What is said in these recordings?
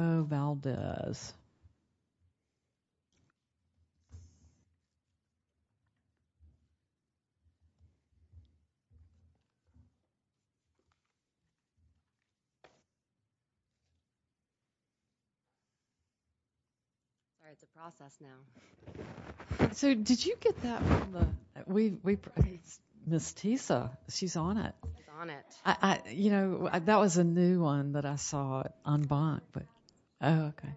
So did you get that from Ms. Tisa? She's on it. You know, that was a new one that I saw on bond, but, oh, okay.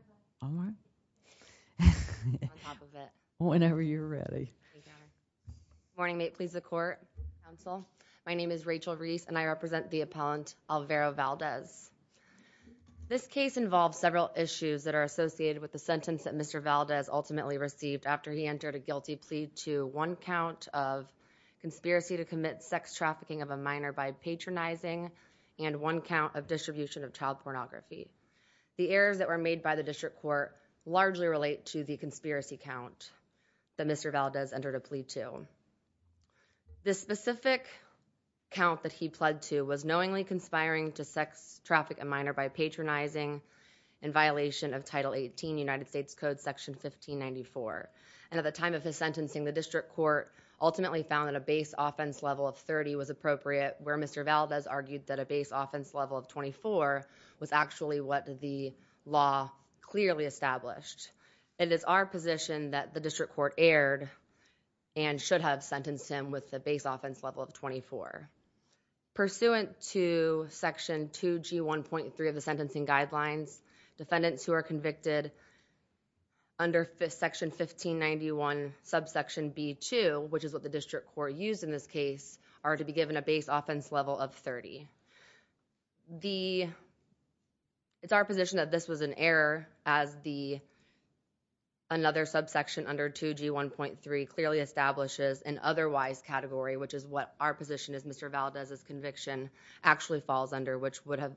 Whenever you're ready. Morning, mate. Please the court. Counsel. My name is Rachel Reese and I represent the appellant Alvaro Valdez. This case involves several issues that are associated with the sentence that Mr. Valdez ultimately received after he entered a guilty plea to one count of conspiracy to commit sex trafficking of a minor by patronizing and one count of distribution of child pornography. The errors that were made by the district court largely relate to the conspiracy count. That Mr. Valdez entered a plea to. This specific count that he pled to was knowingly conspiring to sex traffic a minor by patronizing in violation of title 18 United States Code section 1594. And at the time of his sentencing, the district court ultimately found that a base offense level of 30 was appropriate where Mr. Valdez argued that a base offense level of 24 was actually what the law clearly established. It is our position that the district court erred and should have sentenced him with the base offense level of 24. Pursuant to section 2G 1.3 of the sentencing guidelines, defendants who are convicted. Under section 1591 subsection B2, which is what the district court used in this case are to be given a base offense level of 30. It's our position that this was an error as another subsection under 2G 1.3 clearly establishes an otherwise category, which is what our position is Mr. Valdez's conviction actually falls under, which would have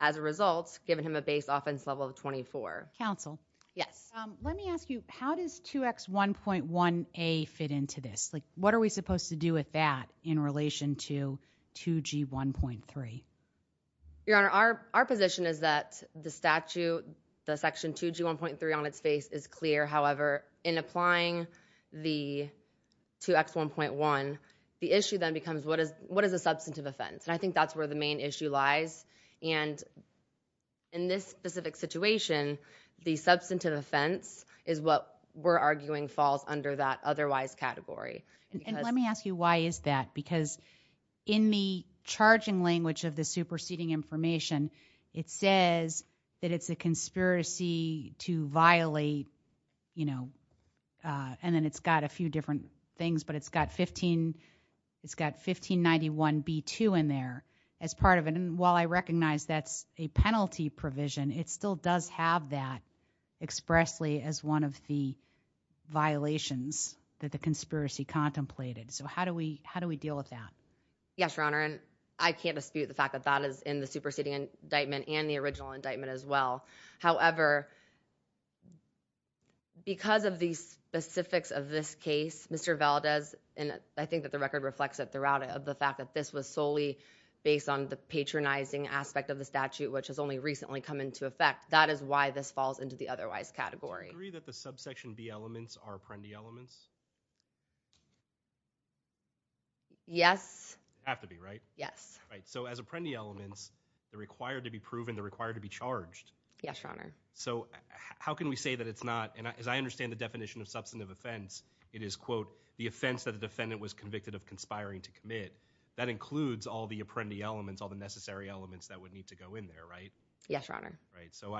as a result given him a base offense level of 24. Let me ask you, how does 2X 1.1A fit into this? What are we supposed to do with that in relation to 2G 1.3? Your Honor, our position is that the statute, the section 2G 1.3 on its face is clear. However, in applying the 2X 1.1, the issue then becomes what is a substantive offense? I think that's where the main issue lies. And in this specific situation, the substantive offense is what we're arguing falls under that otherwise category. And let me ask you, why is that? Because in the charging language of the superseding information, it says that it's a conspiracy to violate, you know, and then it's got a few different things. But it's got 15, it's got 1591 B2 in there as part of it. And while I recognize that's a penalty provision, it still does have that expressly as one of the violations that the conspiracy contemplated. So how do we deal with that? Yes, Your Honor, and I can't dispute the fact that that is in the superseding indictment and the original indictment as well. However, because of the specifics of this case, Mr. Valdez, and I think that the record reflects it throughout of the fact that this was solely based on the patronizing aspect of the statute, which has only recently come into effect, that is why this falls into the otherwise category. Do you agree that the subsection B elements are Apprendi elements? Yes. Have to be, right? Yes. So as Apprendi elements, they're required to be proven, they're required to be charged. Yes, Your Honor. So how can we say that it's not? And as I understand the definition of substantive offense, it is, quote, the offense that the defendant was convicted of conspiring to commit. That includes all the Apprendi elements, all the necessary elements that would need to go in there, right? Yes, Your Honor. Right, so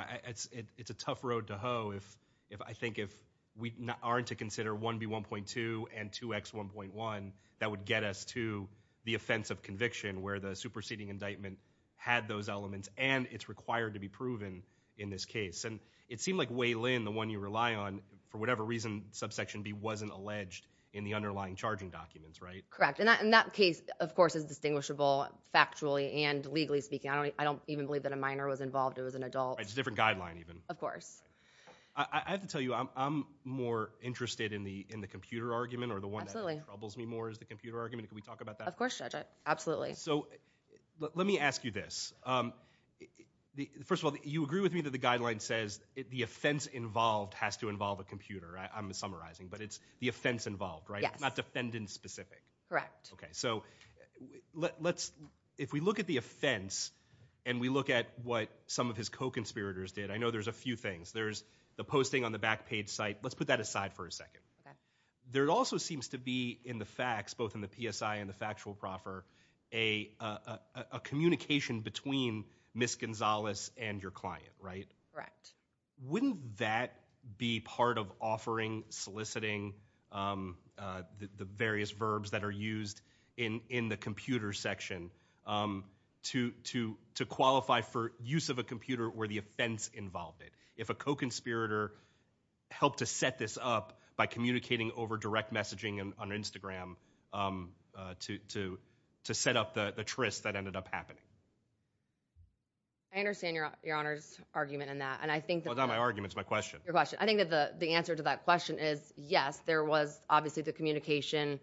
it's a tough road to hoe if I think if we aren't to consider 1B1.2 and 2X1.1, that would get us to the offense of conviction where the superseding indictment had those elements and it's required to be proven in this case. And it seemed like Wei Lin, the one you rely on, for whatever reason, subsection B wasn't alleged in the underlying charging documents, right? Correct. And that case, of course, is distinguishable factually and legally speaking. I don't even believe that a minor was involved. It was an adult. It's a different guideline even. Of course. I have to tell you, I'm more interested in the computer argument or the one that troubles me more is the computer argument. Can we talk about that? Of course, Judge. Absolutely. So let me ask you this. First of all, you agree with me that the guideline says the offense involved has to involve a computer. I'm summarizing, but it's the offense involved, right? Yes. Not defendant specific. Correct. Okay. So if we look at the offense and we look at what some of his co-conspirators did, I know there's a few things. There's the posting on the back page site. Let's put that aside for a second. There also seems to be in the facts, both in the PSI and the factual proffer, a communication between Ms. Gonzalez and your client, right? Correct. Wouldn't that be part of offering soliciting the various verbs that are used in the computer section to qualify for use of a computer where the offense involved it? If a co-conspirator helped to set this up by communicating over direct messaging on Instagram to set up the tryst that ended up happening? I understand your Honor's argument in that. It's not my argument. It's my question. I think the answer to that question is yes, there was obviously the communication,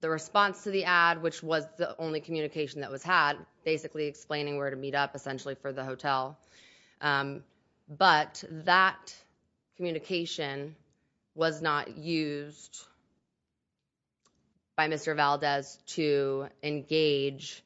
the response to the ad, which was the only communication that was had, basically explaining where to meet up essentially for the hotel. But that communication was not used by Mr. Valdez to engage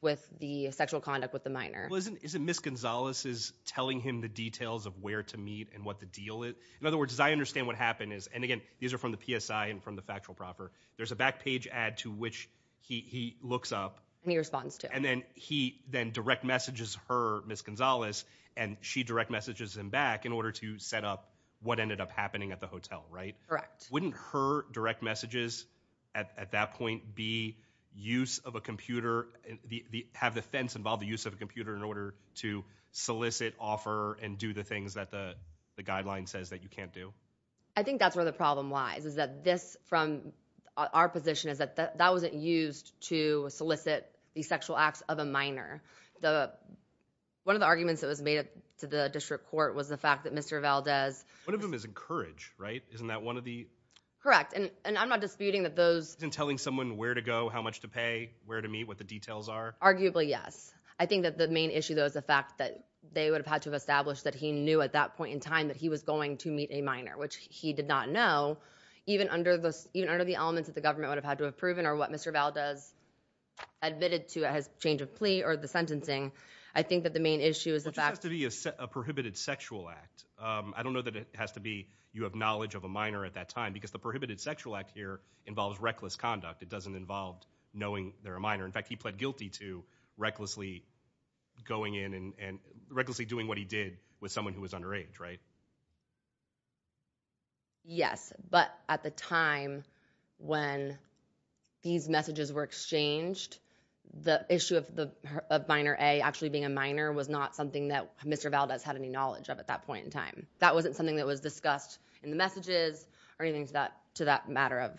with the sexual conduct with the minor. Well, isn't Ms. Gonzalez's telling him the details of where to meet and what the deal is? In other words, as I understand what happened is, and again, these are from the PSI and from the factual proffer, there's a back page ad to which he looks up. And he responds to. And then he then direct messages her, Ms. Gonzalez, and she direct messages him back in order to set up what ended up happening at the hotel, right? Correct. Wouldn't her direct messages at that point be use of a computer, have the fence involve the use of a computer in order to solicit, offer, and do the things that the guideline says that you can't do? I think that's where the problem lies, is that this, from our position, is that that wasn't used to solicit the sexual acts of a minor. One of the arguments that was made to the district court was the fact that Mr. Valdez. One of them is encourage, right? Isn't that one of the? Correct. And I'm not disputing that those. Isn't telling someone where to go, how much to pay, where to meet, what the details are? Arguably, yes. I think that the main issue, though, is the fact that they would have had to have established that he knew at that point in time that he was going to meet a minor, which he did not know. Even under the elements that the government would have had to have proven or what Mr. Valdez admitted to at his change of plea or the sentencing, I think that the main issue is the fact. Which has to be a prohibited sexual act. I don't know that it has to be you have knowledge of a minor at that time, because the prohibited sexual act here involves reckless conduct. It doesn't involve knowing they're a minor. In fact, he pled guilty to recklessly going in and recklessly doing what he did with someone who was underage, right? Yes. But at the time when these messages were exchanged, the issue of minor A actually being a minor was not something that Mr. Valdez had any knowledge of at that point in time. That wasn't something that was discussed in the messages or anything to that matter of.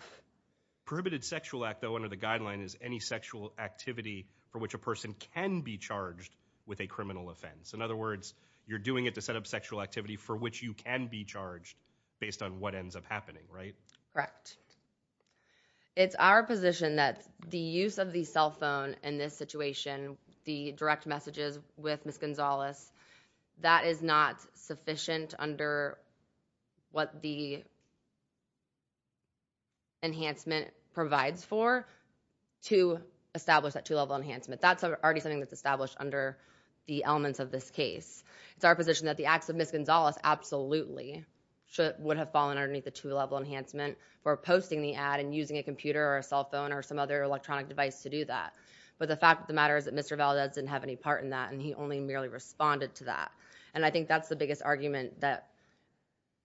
Prohibited sexual act, though, under the guideline is any sexual activity for which a person can be charged with a criminal offense. In other words, you're doing it to set up sexual activity for which you can be charged based on what ends up happening, right? Correct. It's our position that the use of the cell phone in this situation, the direct messages with Ms. Gonzalez, that is not sufficient under what the enhancement provides for to establish that two-level enhancement. That's already something that's established under the elements of this case. It's our position that the acts of Ms. Gonzalez absolutely would have fallen underneath the two-level enhancement for posting the ad and using a computer or a cell phone or some other electronic device to do that. But the fact of the matter is that Mr. Valdez didn't have any part in that, and he only merely responded to that. And I think that's the biggest argument that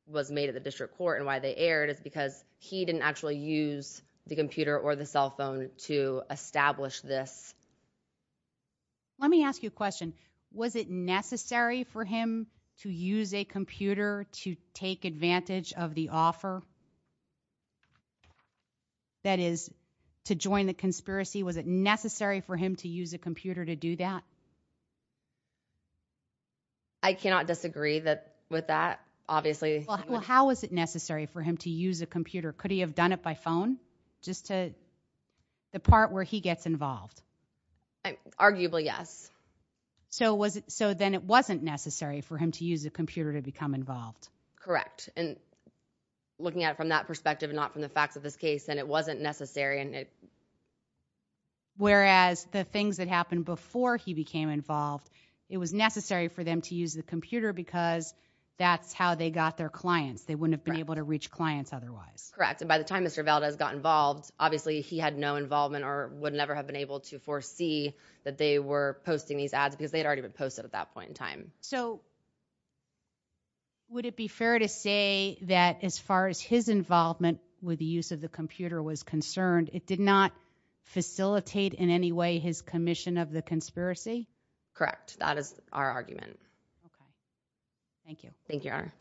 was made at the district court and why they aired is because he didn't actually use the computer or the cell phone to establish this. Let me ask you a question. Was it necessary for him to use a computer to take advantage of the offer that is to join the conspiracy? Was it necessary for him to use a computer to do that? I cannot disagree with that, obviously. Well, how was it necessary for him to use a computer? Could he have done it by phone just to the part where he gets involved? Arguably, yes. So then it wasn't necessary for him to use a computer to become involved? Correct. And looking at it from that perspective and not from the facts of this case, then it wasn't necessary. Whereas the things that happened before he became involved, it was necessary for them to use the computer because that's how they got their clients. They wouldn't have been able to reach clients otherwise. Correct. And by the time Mr. Valdez got involved, obviously he had no involvement or would never have been able to foresee that they were posting these ads because they had already been posted at that point in time. So would it be fair to say that as far as his involvement with the use of the computer was concerned, it did not facilitate in any way his commission of the conspiracy? Correct. That is our argument. Thank you. Thank you, Your Honor.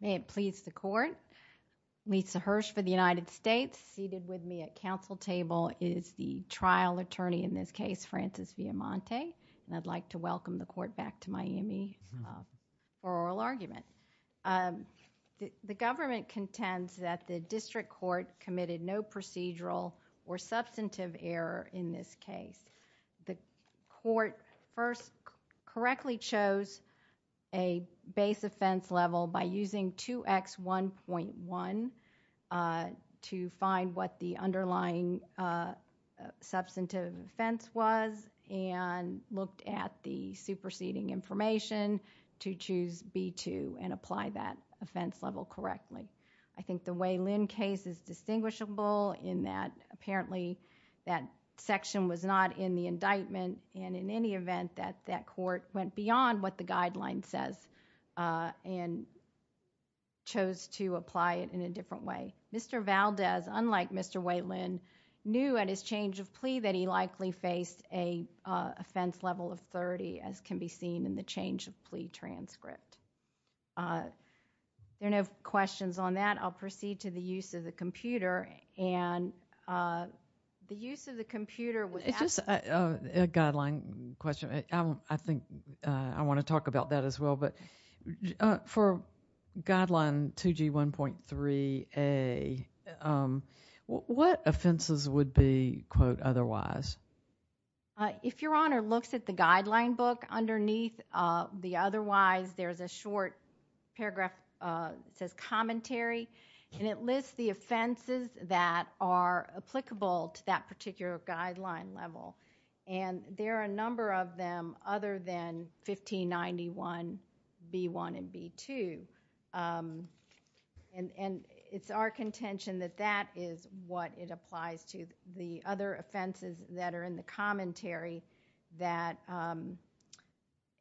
May it please the Court. Lisa Hirsch for the United States. Seated with me at council table is the trial attorney in this case, Francis Villamonte. And I'd like to welcome the Court back to Miami for oral argument. The government contends that the district court committed no procedural or substantive error in this case. The court first correctly chose a base offense level by using 2X1.1 to find what the underlying substantive offense was and looked at the superseding information to choose B2 and apply that offense level correctly. I think the Waylon case is distinguishable in that apparently that section was not in the indictment and in any event that that court went beyond what the guideline says and chose to apply it in a different way. Mr. Valdez, unlike Mr. Waylon, knew at his change of plea that he likely faced an offense level of 30 as can be seen in the change of plea transcript. There are no questions on that. I'll proceed to the use of the computer. And the use of the computer would... It's just a guideline question. I think I want to talk about that as well. But for guideline 2G1.3A, what offenses would be, quote, otherwise? If Your Honor looks at the guideline book underneath the otherwise, there's a short paragraph that says commentary. And it lists the offenses that are applicable to that particular guideline level. And there are a number of them other than 1591B1 and B2. And it's our contention that that is what it applies to. The other offenses that are in the commentary that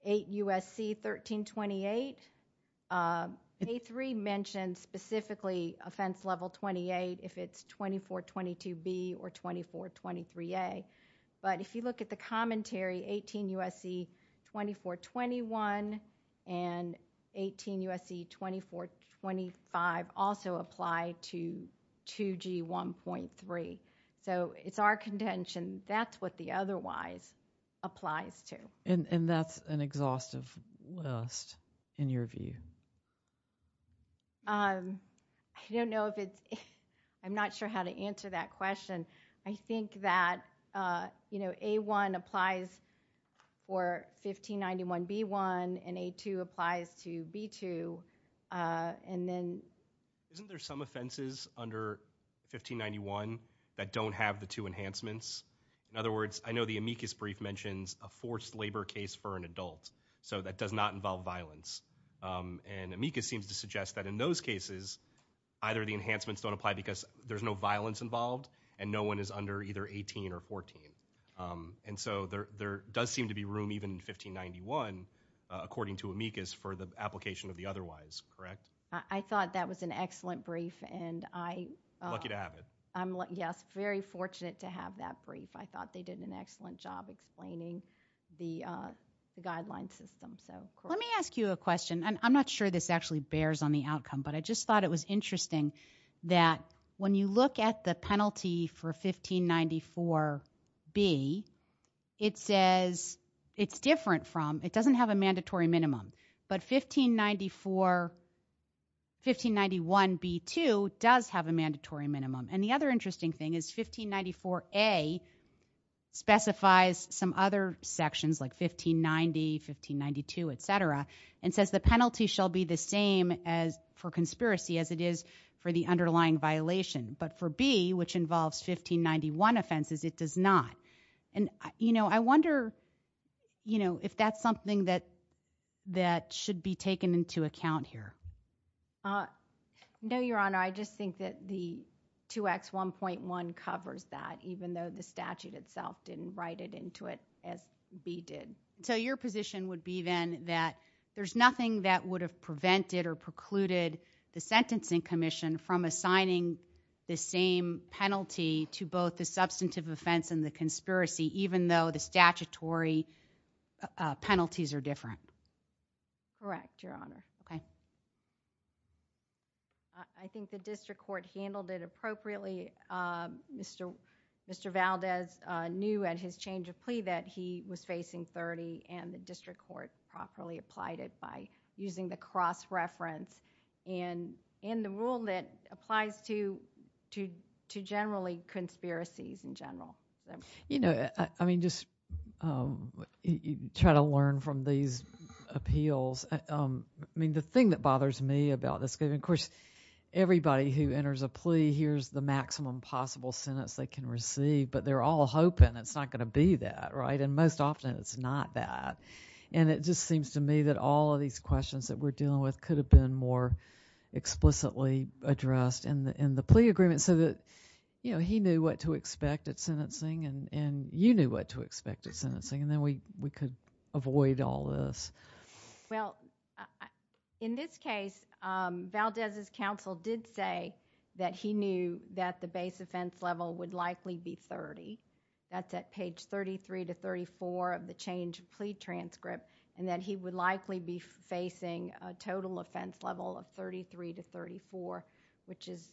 8 U.S.C. 1328, A3 mentions specifically offense level 28 if it's 2422B or 2423A. But if you look at the commentary, 18 U.S.C. 2421 and 18 U.S.C. 2425 also apply to 2G1.3. So it's our contention that's what the otherwise applies to. And that's an exhaustive list in your view? I don't know if it's... I'm not sure how to answer that question. I think that, you know, A1 applies for 1591B1 and A2 applies to B2. And then... Isn't there some offenses under 1591 that don't have the two enhancements? In other words, I know the amicus brief mentions a forced labor case for an adult. So that does not involve violence. And amicus seems to suggest that in those cases, either the enhancements don't apply because there's no violence involved, and no one is under either 18 or 14. And so there does seem to be room even in 1591, according to amicus, for the application of the otherwise, correct? I thought that was an excellent brief, and I... Lucky to have it. Yes, very fortunate to have that brief. I thought they did an excellent job explaining the guideline system. Let me ask you a question, and I'm not sure this actually bears on the outcome, but I just thought it was interesting that when you look at the penalty for 1594B, it says... It's different from... It doesn't have a mandatory minimum. But 1594... 1591B2 does have a mandatory minimum. And the other interesting thing is 1594A specifies some other sections, like 1590, 1592, et cetera, and says the penalty shall be the same for conspiracy as it is for the underlying violation. But for B, which involves 1591 offenses, it does not. And I wonder if that's something that should be taken into account here. No, Your Honor. I just think that the 2X1.1 covers that, even though the statute itself didn't write it into it as B did. So your position would be then that there's nothing that would have prevented or precluded the Sentencing Commission from assigning the same penalty to both the substantive offense and the conspiracy, even though the statutory penalties are different? Correct, Your Honor. Okay. I think the district court handled it appropriately. Mr. Valdez knew at his change of plea that he was facing 30, and the district court properly applied it by using the cross-reference and the rule that applies to generally conspiracies in general. You know, I mean, just try to learn from these appeals. I mean, the thing that bothers me about this is, of course, everybody who enters a plea hears the maximum possible sentence they can receive, but they're all hoping it's not going to be that, right? And most often it's not that. And it just seems to me that all of these questions that we're dealing with could have been more explicitly addressed in the plea agreement so that he knew what to expect at sentencing and you knew what to expect at sentencing, and then we could avoid all this. Well, in this case, Valdez's counsel did say that he knew that the base offense level would likely be 30. That's at page 33 to 34 of the change of plea transcript, and that he would likely be facing a total offense level of 33 to 34, which is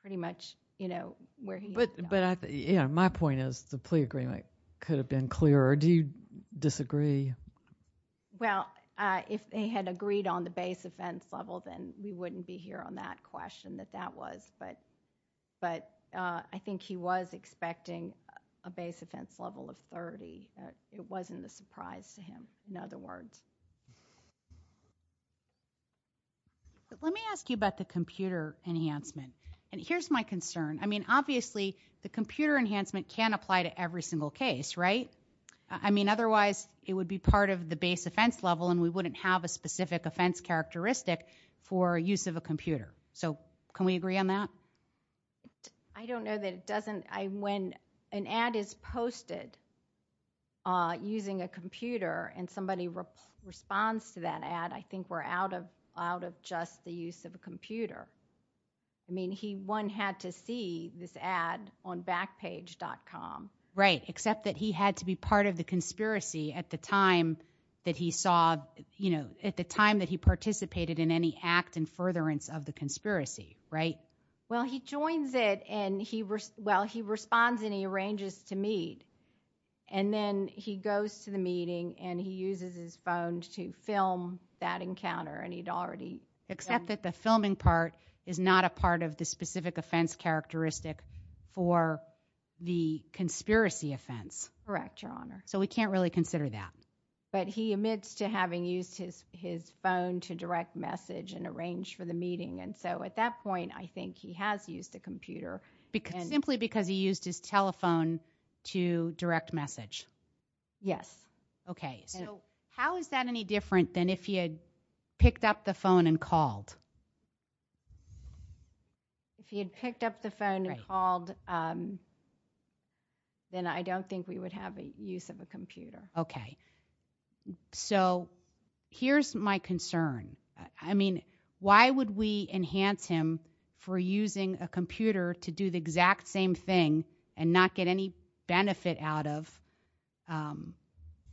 pretty much, you know, where he is now. But, you know, my point is the plea agreement could have been clearer. Do you disagree? Well, if they had agreed on the base offense level, then we wouldn't be here on that question that that was, but I think he was expecting a base offense level of 30. It wasn't a surprise to him, in other words. Let me ask you about the computer enhancement, and here's my concern. I mean, obviously the computer enhancement can apply to every single case, right? I mean, otherwise it would be part of the base offense level and we wouldn't have a specific offense characteristic for use of a computer. So can we agree on that? I don't know that it doesn't. When an ad is posted using a computer and somebody responds to that ad, I think we're out of just the use of a computer. I mean, one had to see this ad on backpage.com. Right, except that he had to be part of the conspiracy at the time that he saw, you know, at the time that he participated in any act in furtherance of the conspiracy, right? Well, he joins it and he responds and he arranges to meet, and then he goes to the meeting and he uses his phone to film that encounter. Except that the filming part is not a part of the specific offense characteristic for the conspiracy offense. Correct, Your Honor. So we can't really consider that. But he admits to having used his phone to direct message and arrange for the meeting, and so at that point I think he has used a computer. Simply because he used his telephone to direct message? Yes. Okay. So how is that any different than if he had picked up the phone and called? If he had picked up the phone and called, then I don't think we would have a use of a computer. Okay. So here's my concern. I mean, why would we enhance him for using a computer to do the exact same thing and not get any benefit out of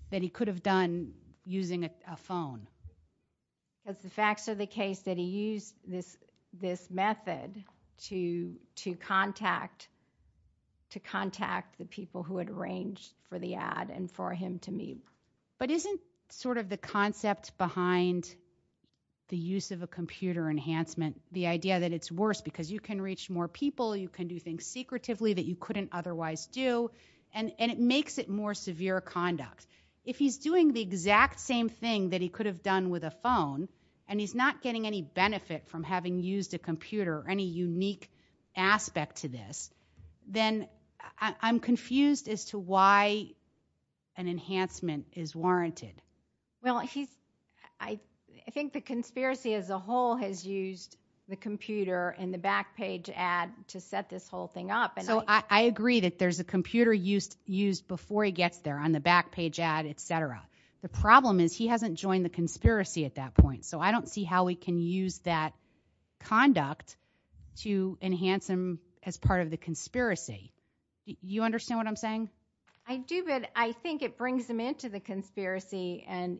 that he could have done using a phone? The facts are the case that he used this method to contact the people who had arranged for the ad and for him to meet. But isn't sort of the concept behind the use of a computer enhancement the idea that it's worse because you can reach more people, you can do things secretively that you couldn't otherwise do, and it makes it more severe conduct. If he's doing the exact same thing that he could have done with a phone and he's not getting any benefit from having used a computer or any unique aspect to this, then I'm confused as to why an enhancement is warranted. Well, I think the conspiracy as a whole has used the computer and the back page ad to set this whole thing up. So I agree that there's a computer used before he gets there on the back page ad, et cetera. The problem is he hasn't joined the conspiracy at that point, so I don't see how we can use that conduct to enhance him as part of the conspiracy. You understand what I'm saying? I do, but I think it brings him into the conspiracy, and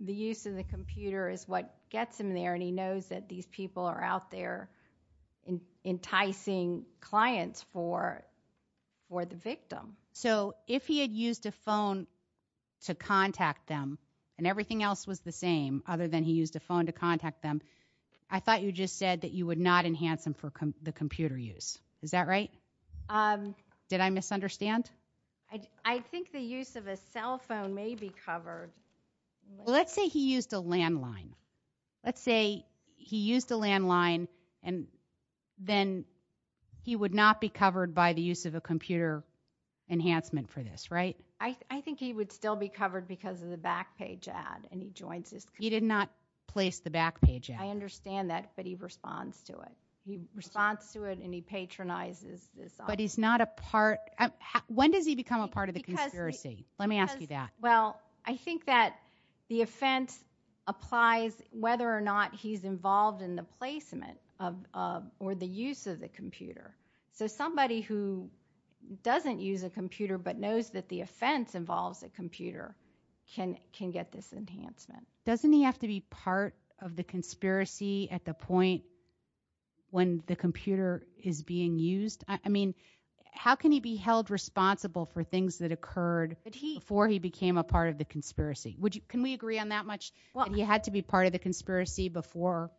the use of the computer is what gets him there, and he knows that these people are out there enticing clients for the victim. So if he had used a phone to contact them and everything else was the same other than he used a phone to contact them, I thought you just said that you would not enhance him for the computer use. Is that right? Did I misunderstand? I think the use of a cell phone may be covered. Well, let's say he used a landline. Let's say he used a landline, and then he would not be covered by the use of a computer enhancement for this, right? I think he would still be covered because of the back page ad, and he joins his conspiracy. He did not place the back page ad. I understand that, but he responds to it. He responds to it, and he patronizes this. But he's not a part. When does he become a part of the conspiracy? Let me ask you that. Well, I think that the offense applies whether or not he's involved in the placement or the use of the computer. So somebody who doesn't use a computer but knows that the offense involves a computer can get this enhancement. Doesn't he have to be part of the conspiracy at the point when the computer is being used? I mean, how can he be held responsible for things that occurred before he became a part of the conspiracy? Can we agree on that much, that he had to be part of the conspiracy before?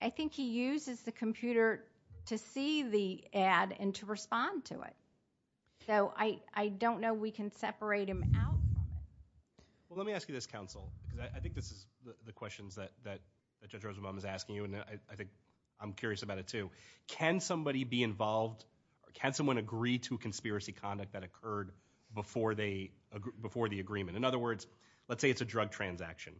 I think he uses the computer to see the ad and to respond to it. So I don't know we can separate him out. Well, let me ask you this, counsel, because I think this is the questions that Judge Rosenbaum is asking you, and I think I'm curious about it too. Can somebody be involved? Can someone agree to a conspiracy conduct that occurred before the agreement? In other words, let's say it's a drug transaction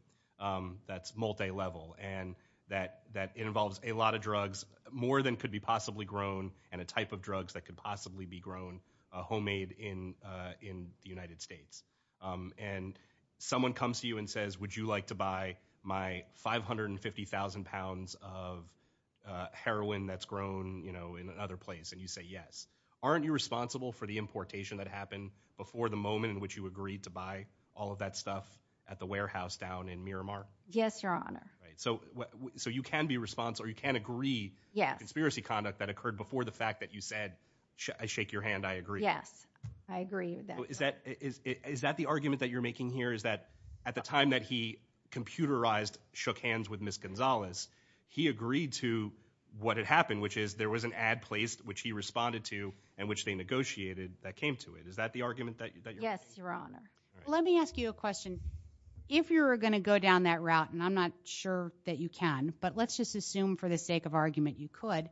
that's multilevel, and that involves a lot of drugs, more than could be possibly grown, and a type of drugs that could possibly be grown homemade in the United States. And someone comes to you and says, would you like to buy my 550,000 pounds of heroin that's grown in another place? And you say yes. Aren't you responsible for the importation that happened before the moment in which you agreed to buy all of that stuff at the warehouse down in Miramar? Yes, Your Honor. So you can be responsible or you can agree to conspiracy conduct that occurred before the fact that you said, I shake your hand, I agree. Yes, I agree with that. Is that the argument that you're making here? Is that at the time that he computerized shook hands with Ms. Gonzalez, he agreed to what had happened, which is there was an ad placed, which he responded to, and which they negotiated that came to it. Is that the argument that you're making? Yes, Your Honor. Let me ask you a question. If you're going to go down that route, and I'm not sure that you can, but let's just assume for the sake of argument you could,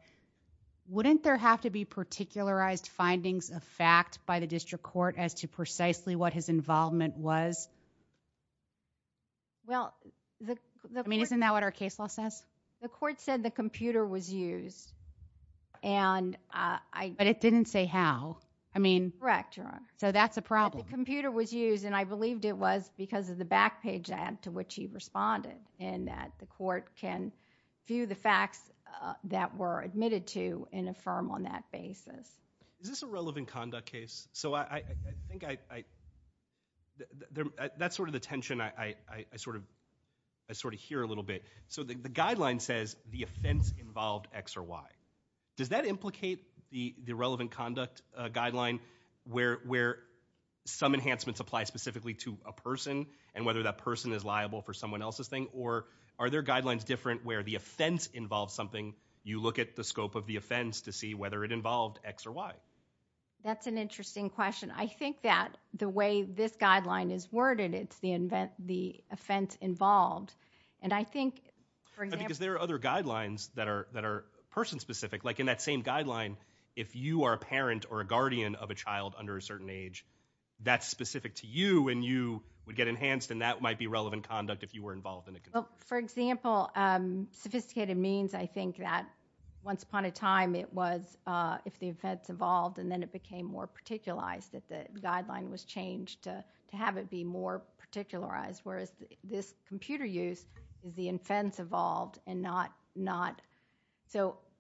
wouldn't there have to be particularized findings of fact by the district court as to precisely what his involvement was? Well, the court... I mean, isn't that what our case law says? The court said the computer was used, and I... But it didn't say how. Correct, Your Honor. So that's a problem. The computer was used, and I believed it was because of the back page ad to which he responded, and that the court can view the facts that were admitted to and affirm on that basis. Is this a relevant conduct case? So I think I... That's sort of the tension I sort of hear a little bit. So the guideline says the offense involved X or Y. Does that implicate the relevant conduct guideline where some enhancements apply specifically to a person and whether that person is liable for someone else's thing, or are there guidelines different where the offense involves something, you look at the scope of the offense to see whether it involved X or Y? That's an interesting question. I think that the way this guideline is worded, it's the offense involved, and I think, for example... Because there are other guidelines that are person-specific. Like in that same guideline, if you are a parent or a guardian of a child under a certain age, that's specific to you, and you would get enhanced, and that might be relevant conduct if you were involved in it. For example, sophisticated means, I think, that once upon a time it was if the offense evolved and then it became more particularized, that the guideline was changed to have it be more particularized, whereas this computer use is the offense evolved and not...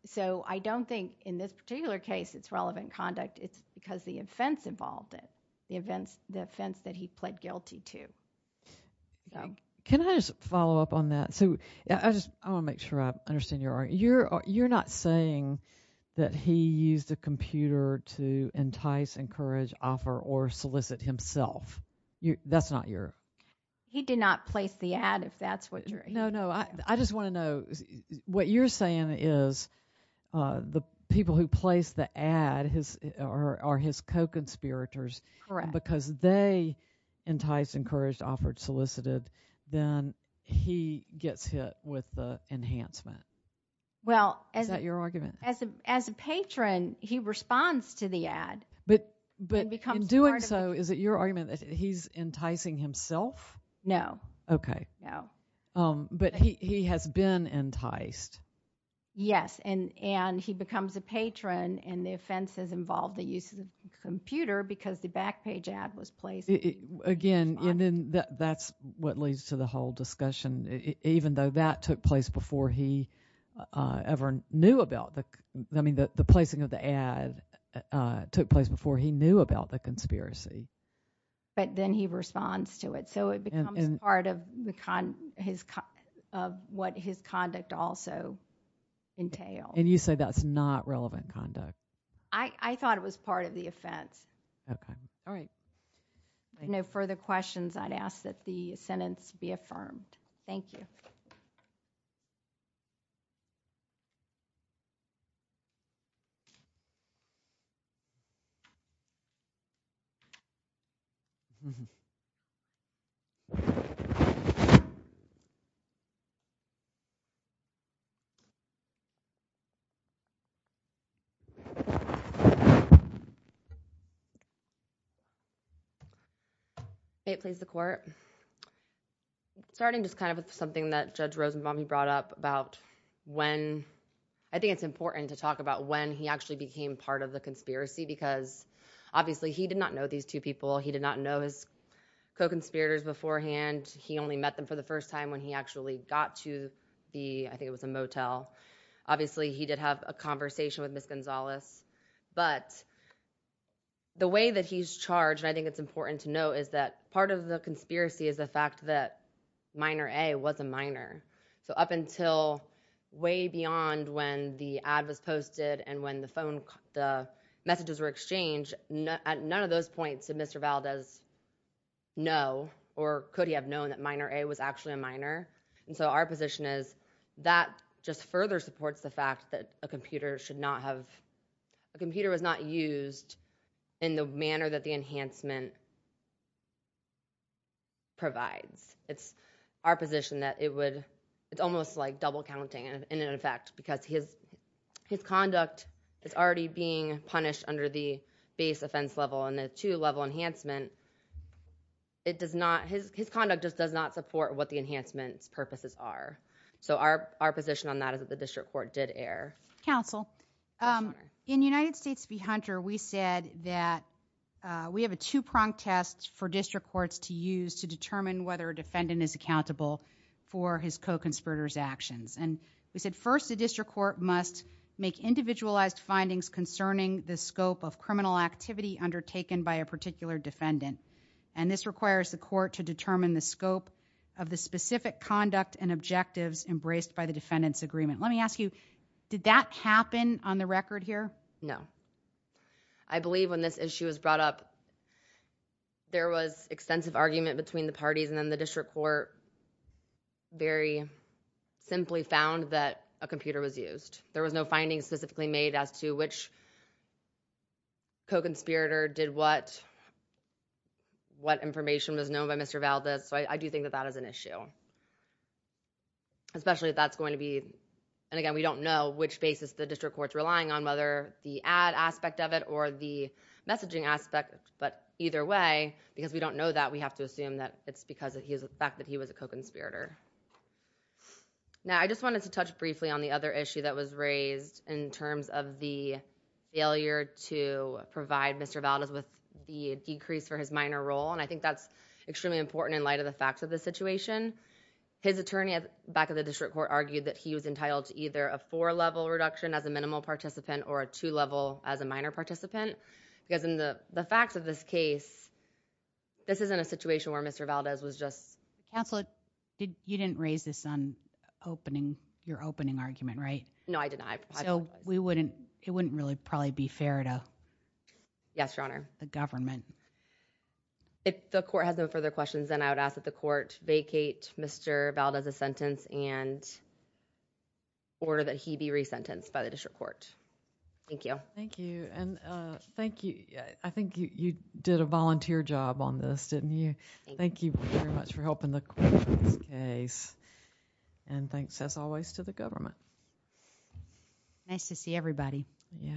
So I don't think in this particular case it's relevant conduct. It's because the offense involved it, the offense that he pled guilty to. Can I just follow up on that? I want to make sure I understand your argument. You're not saying that he used a computer to entice, encourage, offer, or solicit himself. That's not your... He did not place the ad, if that's what you're... No, no, I just want to know, what you're saying is the people who place the ad are his co-conspirators, because they enticed, encouraged, offered, solicited, then he gets hit with the enhancement. Is that your argument? As a patron, he responds to the ad. But in doing so, is it your argument that he's enticing himself? No. Okay. No. But he has been enticed. Yes, and he becomes a patron, and the offense has involved the use of the computer because the back page ad was placed. Again, that's what leads to the whole discussion, even though that took place before he ever knew about the... I mean, the placing of the ad took place before he knew about the conspiracy. But then he responds to it. So it becomes part of what his conduct also entails. And you say that's not relevant conduct? I thought it was part of the offense. Okay. All right. If there are no further questions, I'd ask that the sentence be affirmed. Thank you. Thank you. May it please the court. Starting just kind of with something that Judge Rosenbaum brought up about when... I think it's important to talk about when he actually became part of the conspiracy because, obviously, he did not know these two people. He did not know his co-conspirators beforehand. He only met them for the first time when he actually got to the... I think it was a motel. Obviously, he did have a conversation with Ms. Gonzalez. But the way that he's charged, and I think it's important to know, is that part of the conspiracy is the fact that Minor A was a minor. So up until way beyond when the ad was posted and when the messages were exchanged, at none of those points did Mr. Valdez know or could he have known that Minor A was actually a minor. And so our position is that just further supports the fact that a computer should not have... A computer was not used in the manner that the enhancement provides. It's our position that it would... It's almost like double counting, in effect, because his conduct is already being punished under the base offense level. And the two-level enhancement, it does not... His conduct just does not support what the enhancement's purposes are. So our position on that is that the district court did err. Counsel? In United States v. Hunter, we said that we have a two-prong test for district courts to use to determine whether a defendant is accountable for his co-conspirators' actions. And we said, first, the district court must make individualized findings concerning the scope of criminal activity undertaken by a particular defendant. And this requires the court to determine the scope of the specific conduct and objectives embraced by the defendant's agreement. Let me ask you, did that happen on the record here? No. I believe when this issue was brought up, there was extensive argument between the parties, and then the district court very simply found that a computer was used. There was no findings specifically made as to which co-conspirator did what information was known by Mr. Valdez. So I do think that that is an issue. Especially if that's going to be... And again, we don't know which basis the district court's relying on, whether the ad aspect of it or the messaging aspect. But either way, because we don't know that, we have to assume that it's because of the fact that he was a co-conspirator. Now, I just wanted to touch briefly on the other issue that was raised in terms of the failure to provide Mr. Valdez with the decrease for his minor role. And I think that's extremely important in light of the facts of the situation. His attorney back at the district court argued that he was entitled to either a four-level reduction as a minimal participant or a two-level as a minor participant. Because in the facts of this case, this isn't a situation where Mr. Valdez was just... Counsel, you didn't raise this on your opening argument, right? No, I did not. So it wouldn't really probably be fair to... Yes, Your Honor. ...the government. If the court has no further questions, then I would ask that the court vacate Mr. Valdez's sentence and order that he be resentenced by the district court. Thank you. Thank you. I think you did a volunteer job on this, didn't you? Thank you very much for helping the court in this case. And thanks, as always, to the government. Nice to see everybody. Yeah.